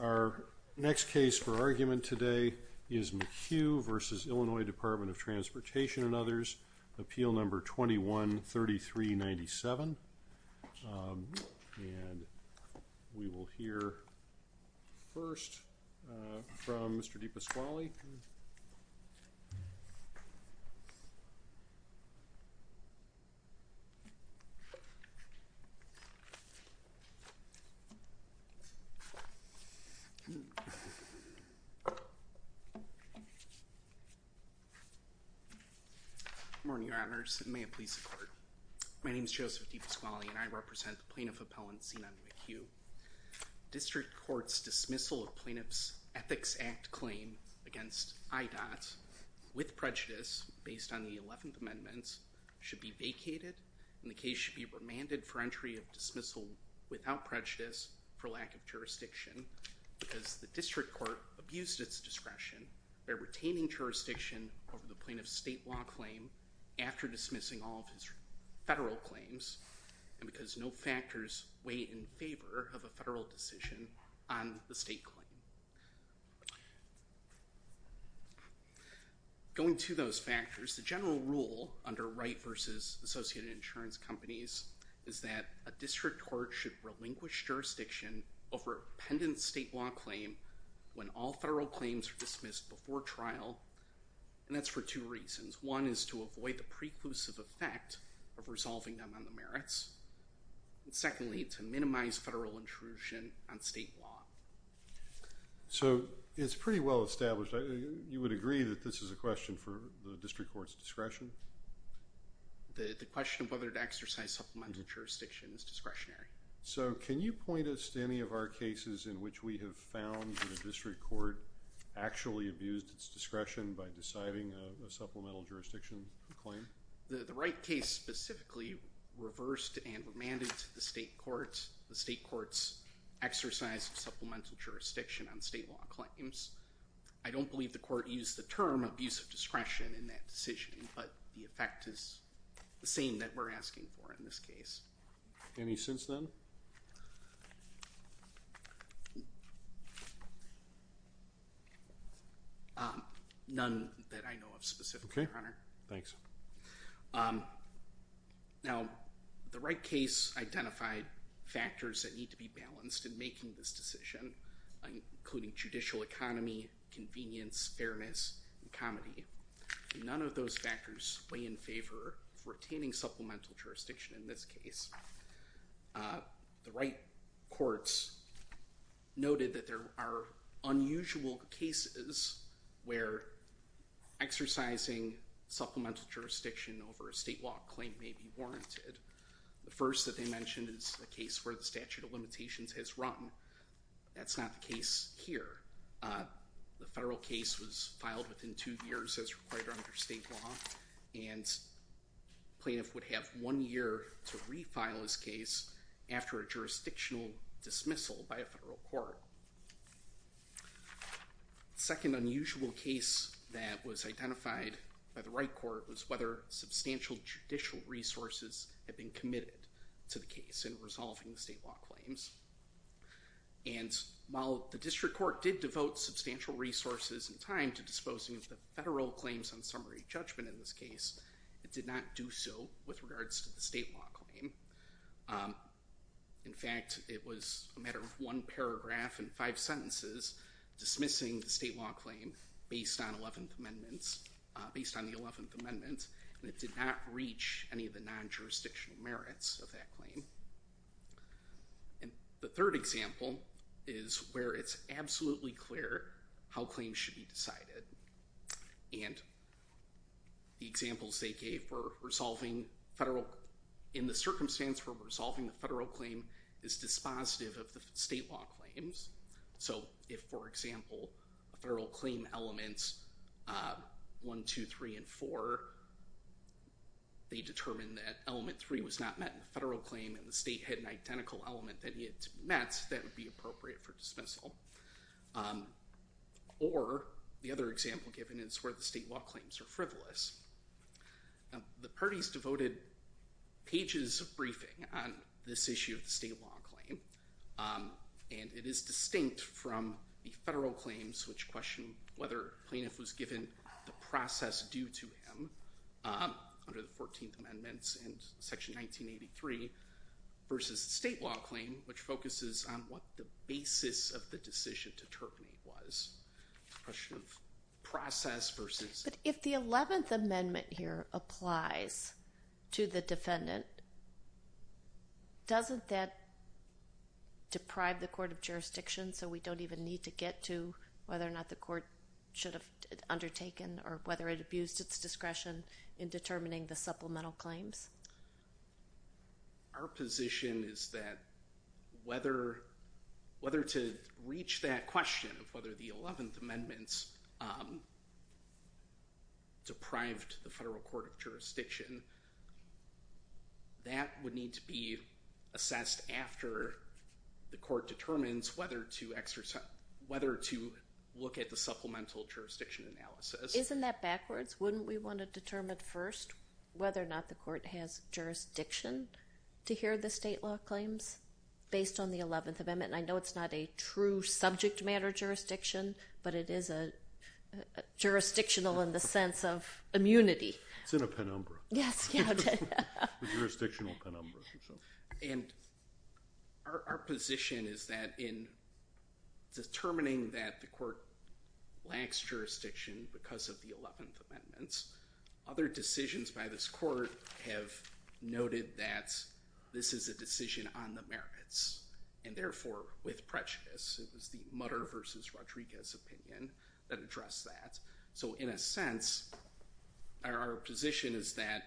Our next case for argument today is McHugh v. Illinois Department of Transportation and others, appeal number 21-3397. And we will hear first from Mr. Deepa Squally. Good morning, Your Honors, and may it please the Court. My name is Joseph Deepa Squally, and I represent the Plaintiff Appellant, Zenon McHugh. District Court's dismissal of Plaintiff's Ethics Act claim against IDOT with prejudice based on the Eleventh Amendment should be vacated, and the case should be remanded for entry of dismissal without prejudice for lack of jurisdiction, because the District Court abused its discretion by retaining jurisdiction over the Plaintiff's state law claim after dismissing all of his federal claims, and because no factors weigh in favor of a federal decision on the state claim. Going to those factors, the general rule under Wright v. Associated Insurance Companies is that a District Court should relinquish jurisdiction over a pendent state law claim when all federal claims are dismissed before trial, and that's for two reasons. One is to avoid the preclusive effect of resolving them on the merits, and secondly, to minimize federal intrusion on state law. So it's pretty well established. You would agree that this is a question for the District Court's discretion? The question of whether to exercise supplemental jurisdiction is discretionary. So can you point us to any of our cases in which we have found that a District Court actually abused its discretion by deciding a supplemental jurisdiction claim? The Wright case specifically reversed and remanded to the state courts. The state courts exercised supplemental jurisdiction on state law claims. I don't believe the court used the term abuse of discretion in that decision, but the effect is the same that we're asking for in this case. Any since then? None that I know of specifically, Your Honor. Okay, thanks. Now, the Wright case identified factors that need to be balanced in making this decision, including judicial economy, convenience, fairness, and comedy. None of those factors weigh in favor of retaining supplemental jurisdiction in this case. The Wright courts noted that there are unusual cases where exercising supplemental jurisdiction over a state law claim may be warranted. The first that they mentioned is the case where the statute of limitations has run. That's not the case here. The federal case was filed within two years as required under state law, and plaintiff would have one year to refile his case after a jurisdictional dismissal by a federal court. The second unusual case that was identified by the Wright court was whether substantial judicial resources had been committed to the case in resolving the state law claims. And while the district court did devote substantial resources and time to disposing of the federal claims on summary judgment in this case, it did not do so with regards to the state law claim. In fact, it was a matter of one paragraph and five sentences dismissing the state law claim based on the 11th Amendment, and it did not reach any of the non-jurisdictional merits of that claim. And the third example is where it's absolutely clear how claims should be decided. And the examples they gave were resolving federal, in the circumstance where resolving the federal claim is dispositive of the state law claims. So if, for example, federal claim elements 1, 2, 3, and 4, they determined that element 3 was not met in the federal claim and the state had an identical element that it met, that would be appropriate for dismissal. Or the other example given is where the state law claims are frivolous. The parties devoted pages of briefing on this issue of the state law claim, and it is distinct from the federal claims which question whether a plaintiff was given the process due to him under the 14th Amendment in Section 1983 versus the state law claim, which focuses on what the basis of the decision to terminate was. The question of process versus... But if the 11th Amendment here applies to the defendant, doesn't that deprive the court of jurisdiction so we don't even need to get to whether or not the court should have undertaken or whether it abused its discretion in determining the supplemental claims? Our position is that whether to reach that question of whether the 11th Amendment deprived the federal court of jurisdiction, that would need to be assessed after the court determines whether to look at the supplemental jurisdiction analysis. Isn't that backwards? Wouldn't we want to determine first whether or not the court has jurisdiction to hear the state law claims based on the 11th Amendment? I know it's not a true subject matter jurisdiction, but it is jurisdictional in the sense of immunity. It's in a penumbra. Yes. A jurisdictional penumbra. And our position is that in determining that the court lacks jurisdiction because of the 11th Amendments, other decisions by this court have noted that this is a decision on the merits, and therefore with prejudice. It was the Mutter versus Rodriguez opinion that addressed that. So in a sense, our position is that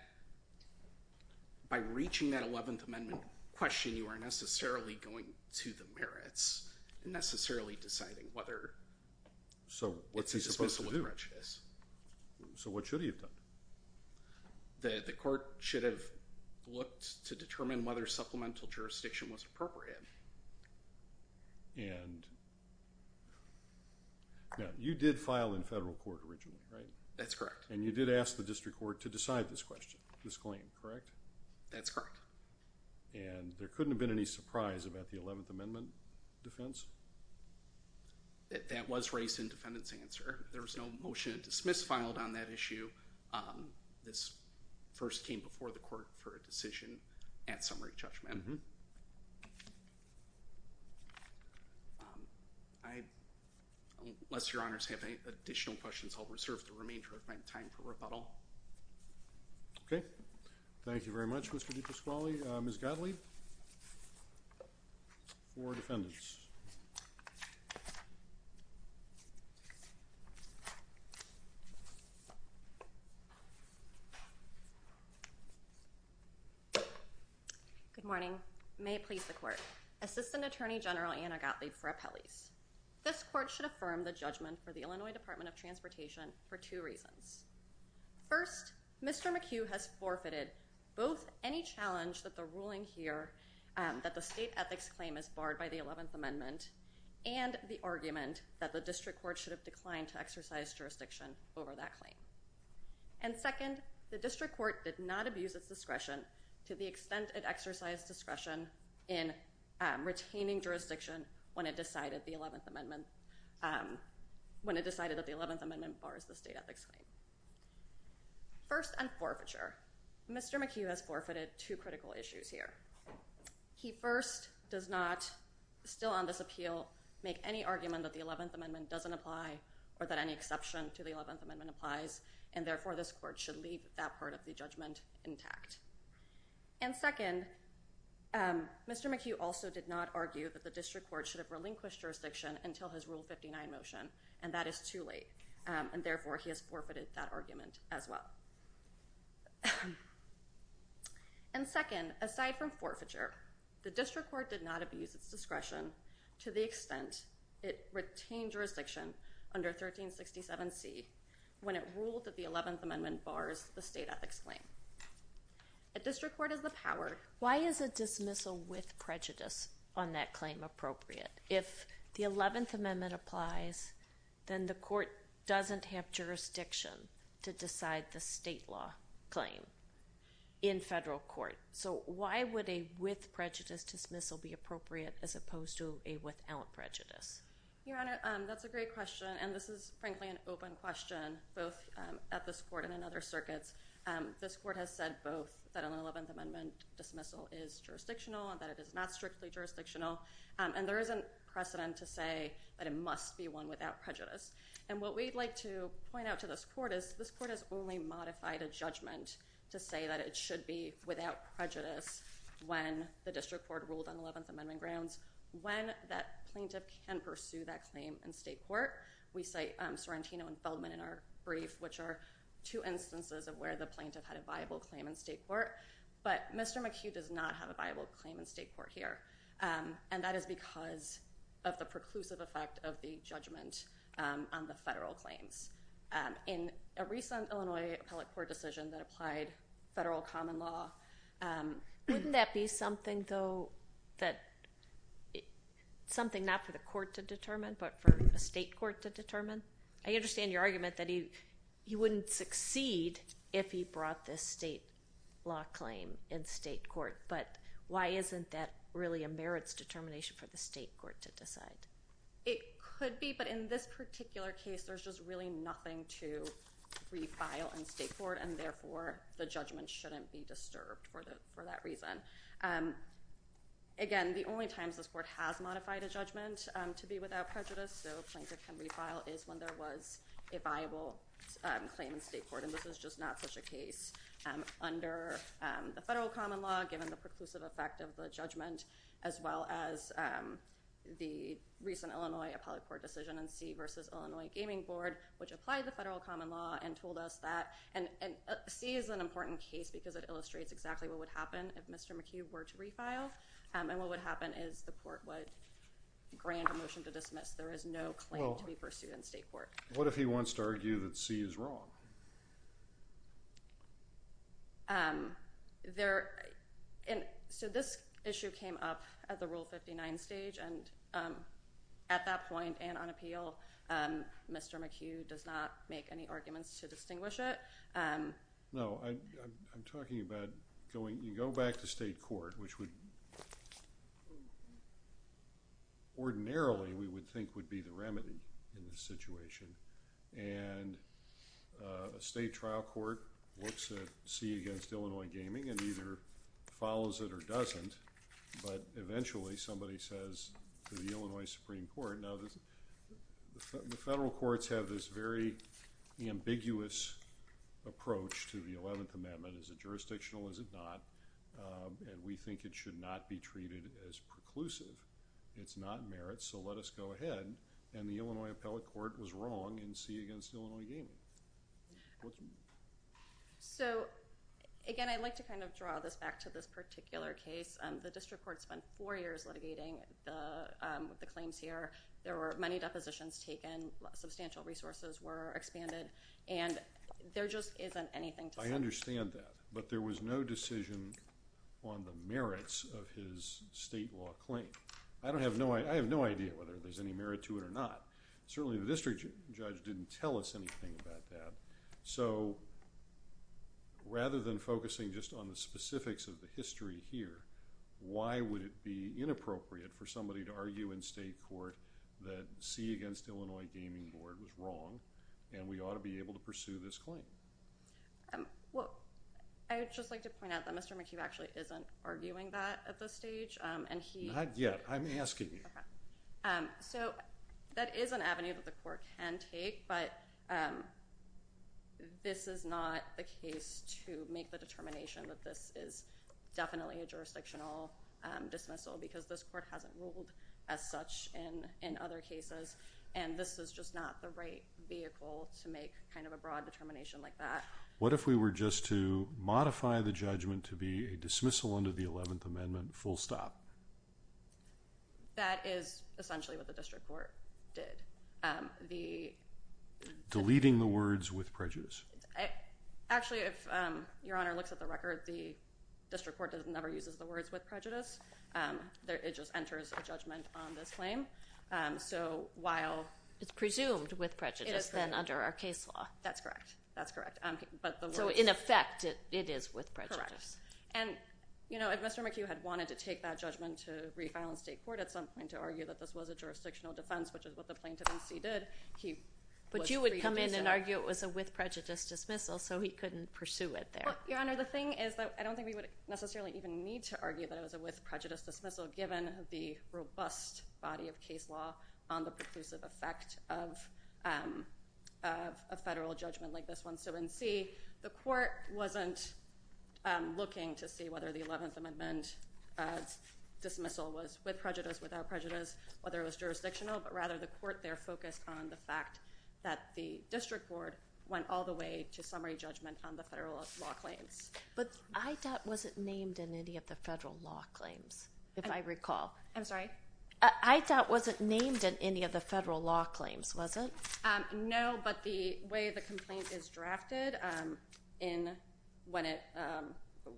by reaching that 11th Amendment question, you are necessarily going to the merits and necessarily deciding whether it's a dismissal of prejudice. So what's he supposed to do? So what should he have done? The court should have looked to determine whether supplemental jurisdiction was appropriate. And you did file in federal court originally, right? That's correct. And you did ask the district court to decide this claim, correct? That's correct. And there couldn't have been any surprise about the 11th Amendment defense? That was raised in defendant's answer. There was no motion to dismiss filed on that issue. This first came before the court for a decision at summary judgment. Unless your honors have any additional questions, I'll reserve the remainder of my time for rebuttal. Okay. Thank you very much, Mr. DiPasquale. Ms. Godley for defendants. Good morning. May it please the court. Assistant Attorney General Anna Godley for appellees. This court should affirm the judgment for the Illinois Department of Transportation for two reasons. First, Mr. McHugh has forfeited both any challenge that the ruling here that the state ethics claim is barred by the 11th Amendment and the argument that the district court should have declined to exercise jurisdiction over that claim. And second, the district court did not abuse its discretion to the extent it exercised discretion in retaining jurisdiction when it decided the 11th Amendment, when it decided that the 11th Amendment bars the state ethics claim. First, on forfeiture, Mr. McHugh has forfeited two critical issues here. He first does not, still on this appeal, make any argument that the 11th Amendment doesn't apply or that any exception to the 11th Amendment applies, and therefore this court should leave that part of the judgment intact. And second, Mr. McHugh also did not argue that the district court should have relinquished jurisdiction until his Rule 59 motion, and that is too late, and therefore he has forfeited that argument as well. And second, aside from forfeiture, the district court did not abuse its discretion to the extent it retained jurisdiction under 1367C when it ruled that the 11th Amendment bars the state ethics claim. A district court is the power. Why is a dismissal with prejudice on that claim appropriate? If the 11th Amendment applies, then the court doesn't have jurisdiction to decide the state law claim in federal court. So why would a with prejudice dismissal be appropriate as opposed to a without prejudice? Your Honor, that's a great question, and this is frankly an open question, both at this court and in other circuits. This court has said both that an 11th Amendment dismissal is jurisdictional and that it is not strictly jurisdictional, and there isn't precedent to say that it must be one without prejudice. And what we'd like to point out to this court is this court has only modified a judgment to say that it should be without prejudice when the district court ruled on 11th Amendment grounds. When that plaintiff can pursue that claim in state court, we cite Sorrentino and Feldman in our brief, which are two instances of where the plaintiff had a viable claim in state court. But Mr. McHugh does not have a viable claim in state court here, and that is because of the preclusive effect of the judgment on the federal claims. In a recent Illinois appellate court decision that applied federal common law, wouldn't that be something, though, that something not for the court to determine but for a state court to determine? I understand your argument that he wouldn't succeed if he brought this state law claim in state court, but why isn't that really a merits determination for the state court to decide? It could be, but in this particular case, there's just really nothing to refile in state court, and therefore, the judgment shouldn't be disturbed for that reason. Again, the only times this court has modified a judgment to be without prejudice, so a plaintiff can refile, is when there was a viable claim in state court. This is just not such a case under the federal common law, given the preclusive effect of the judgment, as well as the recent Illinois appellate court decision in C v. Illinois Gaming Board, which applied the federal common law and told us that C is an important case because it illustrates exactly what would happen if Mr. McHugh were to refile. What would happen is the court would grant a motion to dismiss. There is no claim to be pursued in state court. What if he wants to argue that C is wrong? This issue came up at the Rule 59 stage, and at that point and on appeal, Mr. McHugh does not make any arguments to distinguish it. No, I'm talking about going back to state court, which ordinarily we would think would be the remedy in this situation. A state trial court looks at C v. Illinois Gaming and either follows it or doesn't, but eventually somebody says to the Illinois Supreme Court, the federal courts have this very ambiguous approach to the 11th Amendment. Is it jurisdictional? Is it not? We think it should not be treated as preclusive. It's not merit, so let us go ahead. The Illinois appellate court was wrong in C v. Illinois Gaming. Again, I'd like to draw this back to this particular case. The district court spent four years litigating the claims here. There were many depositions taken, substantial resources were expanded, and there just isn't anything to say. I understand that, but there was no decision on the merits of his state law claim. I have no idea whether there's any merit to it or not. Certainly, the district judge didn't tell us anything about that. Rather than focusing just on the specifics of the history here, why would it be inappropriate for somebody to argue in state court that C v. Illinois Gaming Board was wrong and we ought to be able to pursue this claim? I would just like to point out that Mr. McHugh actually isn't arguing that at this stage. Not yet. I'm asking you. That is an avenue that the court can take, but this is not the case to make the determination that this is definitely a jurisdictional dismissal because this court hasn't ruled as such in other cases, and this is just not the right vehicle to make a broad determination like that. What if we were just to modify the judgment to be a dismissal under the 11th Amendment, full stop? That is essentially what the district court did. Deleting the words with prejudice. Actually, if Your Honor looks at the record, the district court never uses the words with prejudice. It just enters a judgment on this claim. It's presumed with prejudice then under our case law. That's correct. In effect, it is with prejudice. Correct. If Mr. McHugh had wanted to take that judgment to refile in state court at some point to argue that this was a jurisdictional defense, which is what the plaintiff in C did, he was free to do so. He didn't argue it was a with prejudice dismissal, so he couldn't pursue it there. Your Honor, the thing is that I don't think we would necessarily even need to argue that it was a with prejudice dismissal given the robust body of case law on the preclusive effect of a federal judgment like this one. In C, the court wasn't looking to see whether the 11th Amendment dismissal was with prejudice, without prejudice, whether it was jurisdictional, but rather the court there focused on the fact that the district board went all the way to summary judgment on the federal law claims. But IDOT wasn't named in any of the federal law claims, if I recall. I'm sorry? IDOT wasn't named in any of the federal law claims, was it? No, but the way the complaint is drafted, when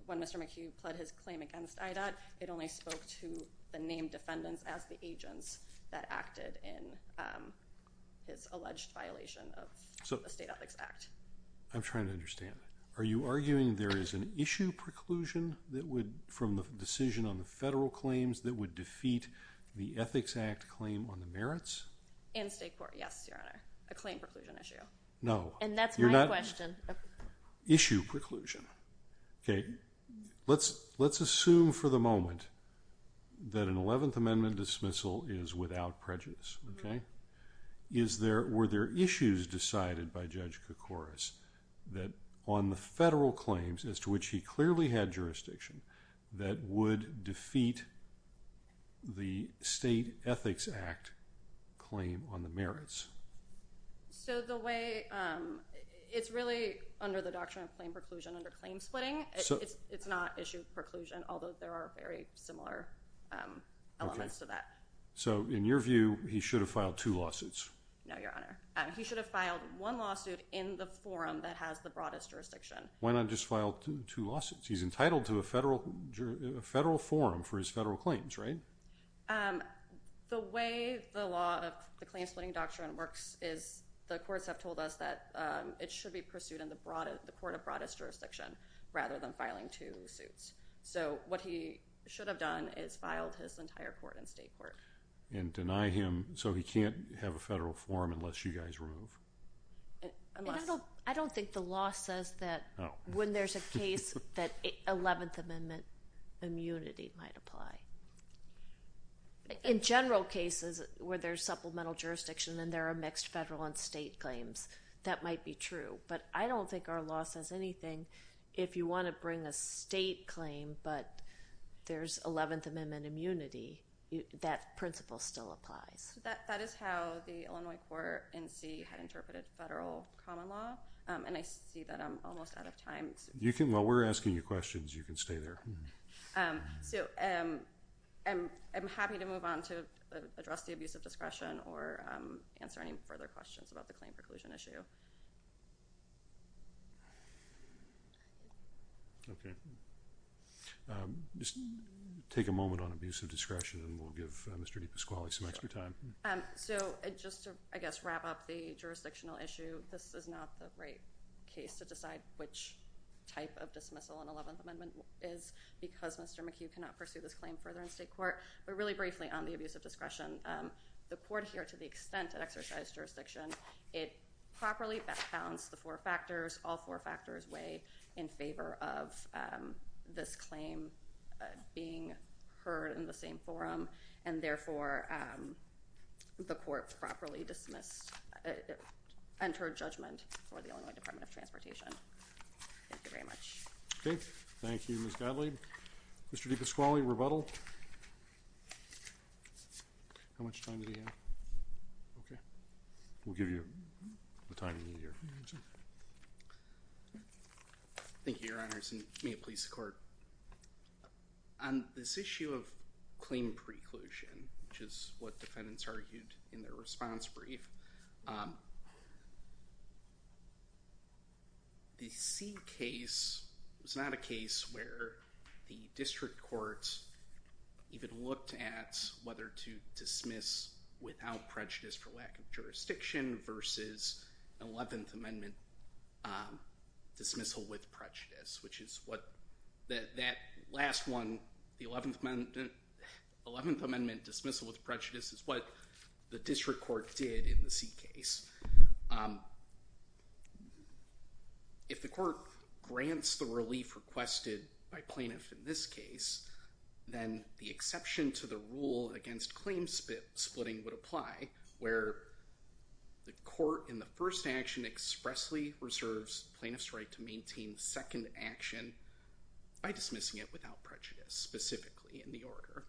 Mr. McHugh pled his claim against IDOT, it only spoke to the named defendants as the agents that acted in this alleged violation of the State Ethics Act. I'm trying to understand. Are you arguing there is an issue preclusion from the decision on the federal claims that would defeat the Ethics Act claim on the merits? In state court, yes, Your Honor. A claim preclusion issue. No. And that's my question. Issue preclusion. Okay. Let's assume for the moment that an 11th Amendment dismissal is without prejudice, okay? Were there issues decided by Judge Koukouras that on the federal claims, as to which he clearly had jurisdiction, that would defeat the State Ethics Act claim on the merits? It's really under the Doctrine of Claim Preclusion under claim splitting. It's not issue preclusion, although there are very similar elements to that. Okay. So in your view, he should have filed two lawsuits? No, Your Honor. He should have filed one lawsuit in the forum that has the broadest jurisdiction. Why not just file two lawsuits? He's entitled to a federal forum for his federal claims, right? The way the law of the claim splitting doctrine works is the courts have told us that it should be pursued in the court of broadest jurisdiction rather than filing two suits. So what he should have done is filed his entire court in state court. And deny him so he can't have a federal forum unless you guys remove. I don't think the law says that when there's a case that 11th Amendment immunity might apply. In general cases where there's supplemental jurisdiction and there are mixed federal and state claims, that might be true. But I don't think our law says anything. If you want to bring a state claim but there's 11th Amendment immunity, that principle still applies. That is how the Illinois court NC had interpreted federal common law. And I see that I'm almost out of time. Well, we're asking you questions. You can stay there. So I'm happy to move on to address the abuse of discretion or answer any further questions about the claim preclusion issue. Okay. Just take a moment on abuse of discretion and we'll give Mr. DePasquale some extra time. So just to I guess wrap up the jurisdictional issue. This is not the right case to decide which type of dismissal on 11th Amendment is because Mr. McHugh cannot pursue this claim further in state court. But really briefly on the abuse of discretion, the court here to the extent of exercise jurisdiction. It properly founds the four factors. All four factors way in favor of this claim being heard in the same forum. And therefore, the court properly dismissed and her judgment for the only Department of Transportation. Thank you very much. Okay. Thank you. Miss Godly. Mr. DePasquale rebuttal. How much time do you have? Okay. We'll give you the time you need here. Thank you, Your Honors. And may it please the court. On this issue of claim preclusion, which is what defendants argued in their response brief. The C case was not a case where the district courts even looked at whether to dismiss without prejudice for lack of jurisdiction versus 11th Amendment dismissal with prejudice, which is what that last one. The 11th Amendment 11th Amendment dismissal with prejudice is what the district court did in the C case. If the court grants the relief requested by plaintiff in this case, then the exception to the rule against claims split splitting would apply where the court in the first action expressly reserves plaintiff's right to maintain second action by dismissing it without prejudice specifically in the order.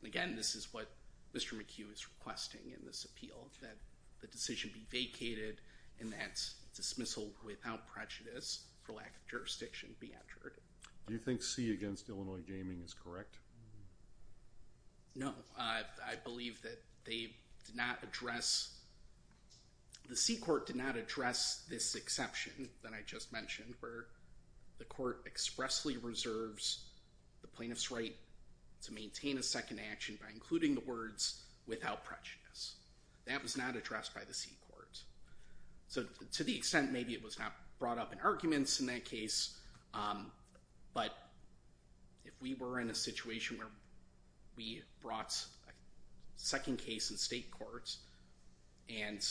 And again, this is what Mr. McHugh is requesting in this appeal that the decision be vacated and that dismissal without prejudice for lack of jurisdiction be entered. Do you think C against Illinois gaming is correct? No, I believe that they did not address. The C court did not address this exception that I just mentioned where the court expressly reserves the plaintiff's right to maintain a second action by including the words without prejudice. That was not addressed by the C court. So to the extent maybe it was not brought up in arguments in that case. But if we were in a situation where we brought a second case in state courts and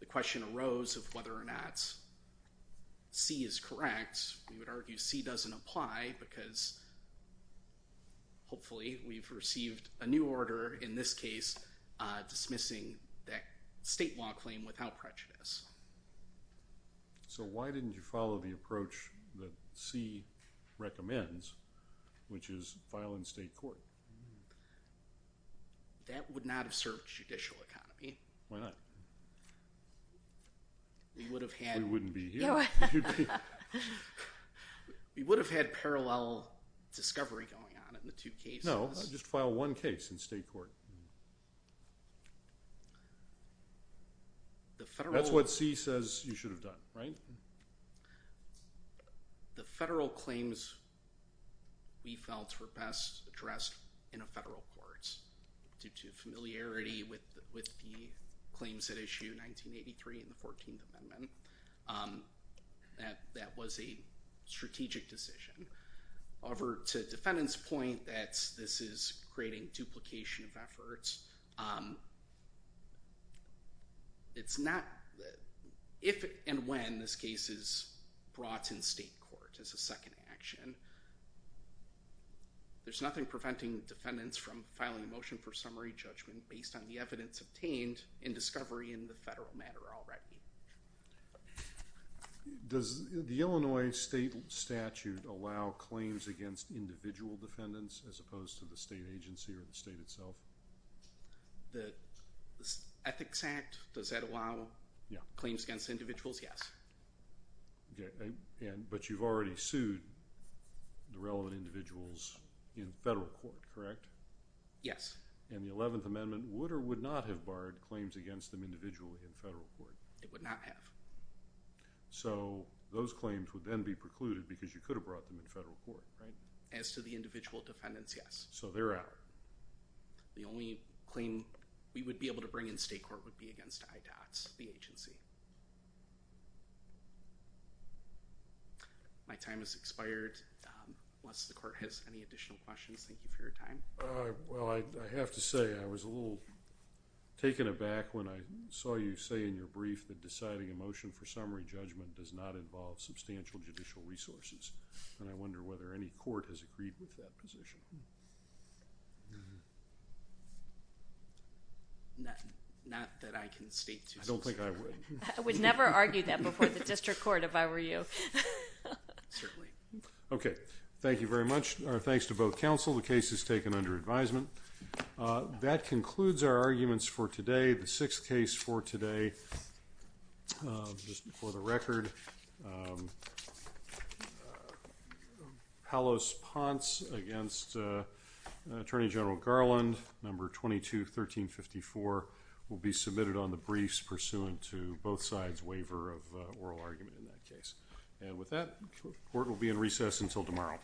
the question arose of whether or not C is correct, we would argue C doesn't apply because. Hopefully we've received a new order in this case dismissing that state law claim without prejudice. So why didn't you follow the approach that C recommends which is file in state court? That would not have served judicial economy. Why not? We would have had. We wouldn't be here. We would have had parallel discovery going on in the two cases. No, just file one case in state court. That's what C says you should have done, right? The federal claims we felt were best addressed in a federal court due to familiarity with the claims that issue 1983 and the 14th Amendment. That was a strategic decision. Over to defendants point that this is creating duplication of efforts. It's not if and when this case is brought in state court as a second action. There's nothing preventing defendants from filing a motion for summary judgment based on the evidence obtained in discovery in the federal matter already. Does the Illinois state statute allow claims against individual defendants as opposed to the state agency or the state itself? The Ethics Act, does that allow claims against individuals? Yes. But you've already sued the relevant individuals in federal court, correct? Yes. And the 11th Amendment would or would not have barred claims against them individually in federal court? It would not have. So those claims would then be precluded because you could have brought them in federal court, right? As to the individual defendants, yes. So they're out. The only claim we would be able to bring in state court would be against IDOTS, the agency. My time has expired. Unless the court has any additional questions, thank you for your time. Well, I have to say I was a little taken aback when I saw you say in your brief that deciding a motion for summary judgment does not involve substantial judicial resources. And I wonder whether any court has agreed with that position. Not that I can state. I don't think I would. I would never argue that before the district court if I were you. Certainly. Okay. Thank you very much. Our thanks to both counsel. The case is taken under advisement. That concludes our arguments for today. The sixth case for today, just for the record, Palos Ponce against Attorney General Garland, number 22-1354, will be submitted on the briefs pursuant to both sides' waiver of oral argument in that case. And with that, court will be in recess until tomorrow.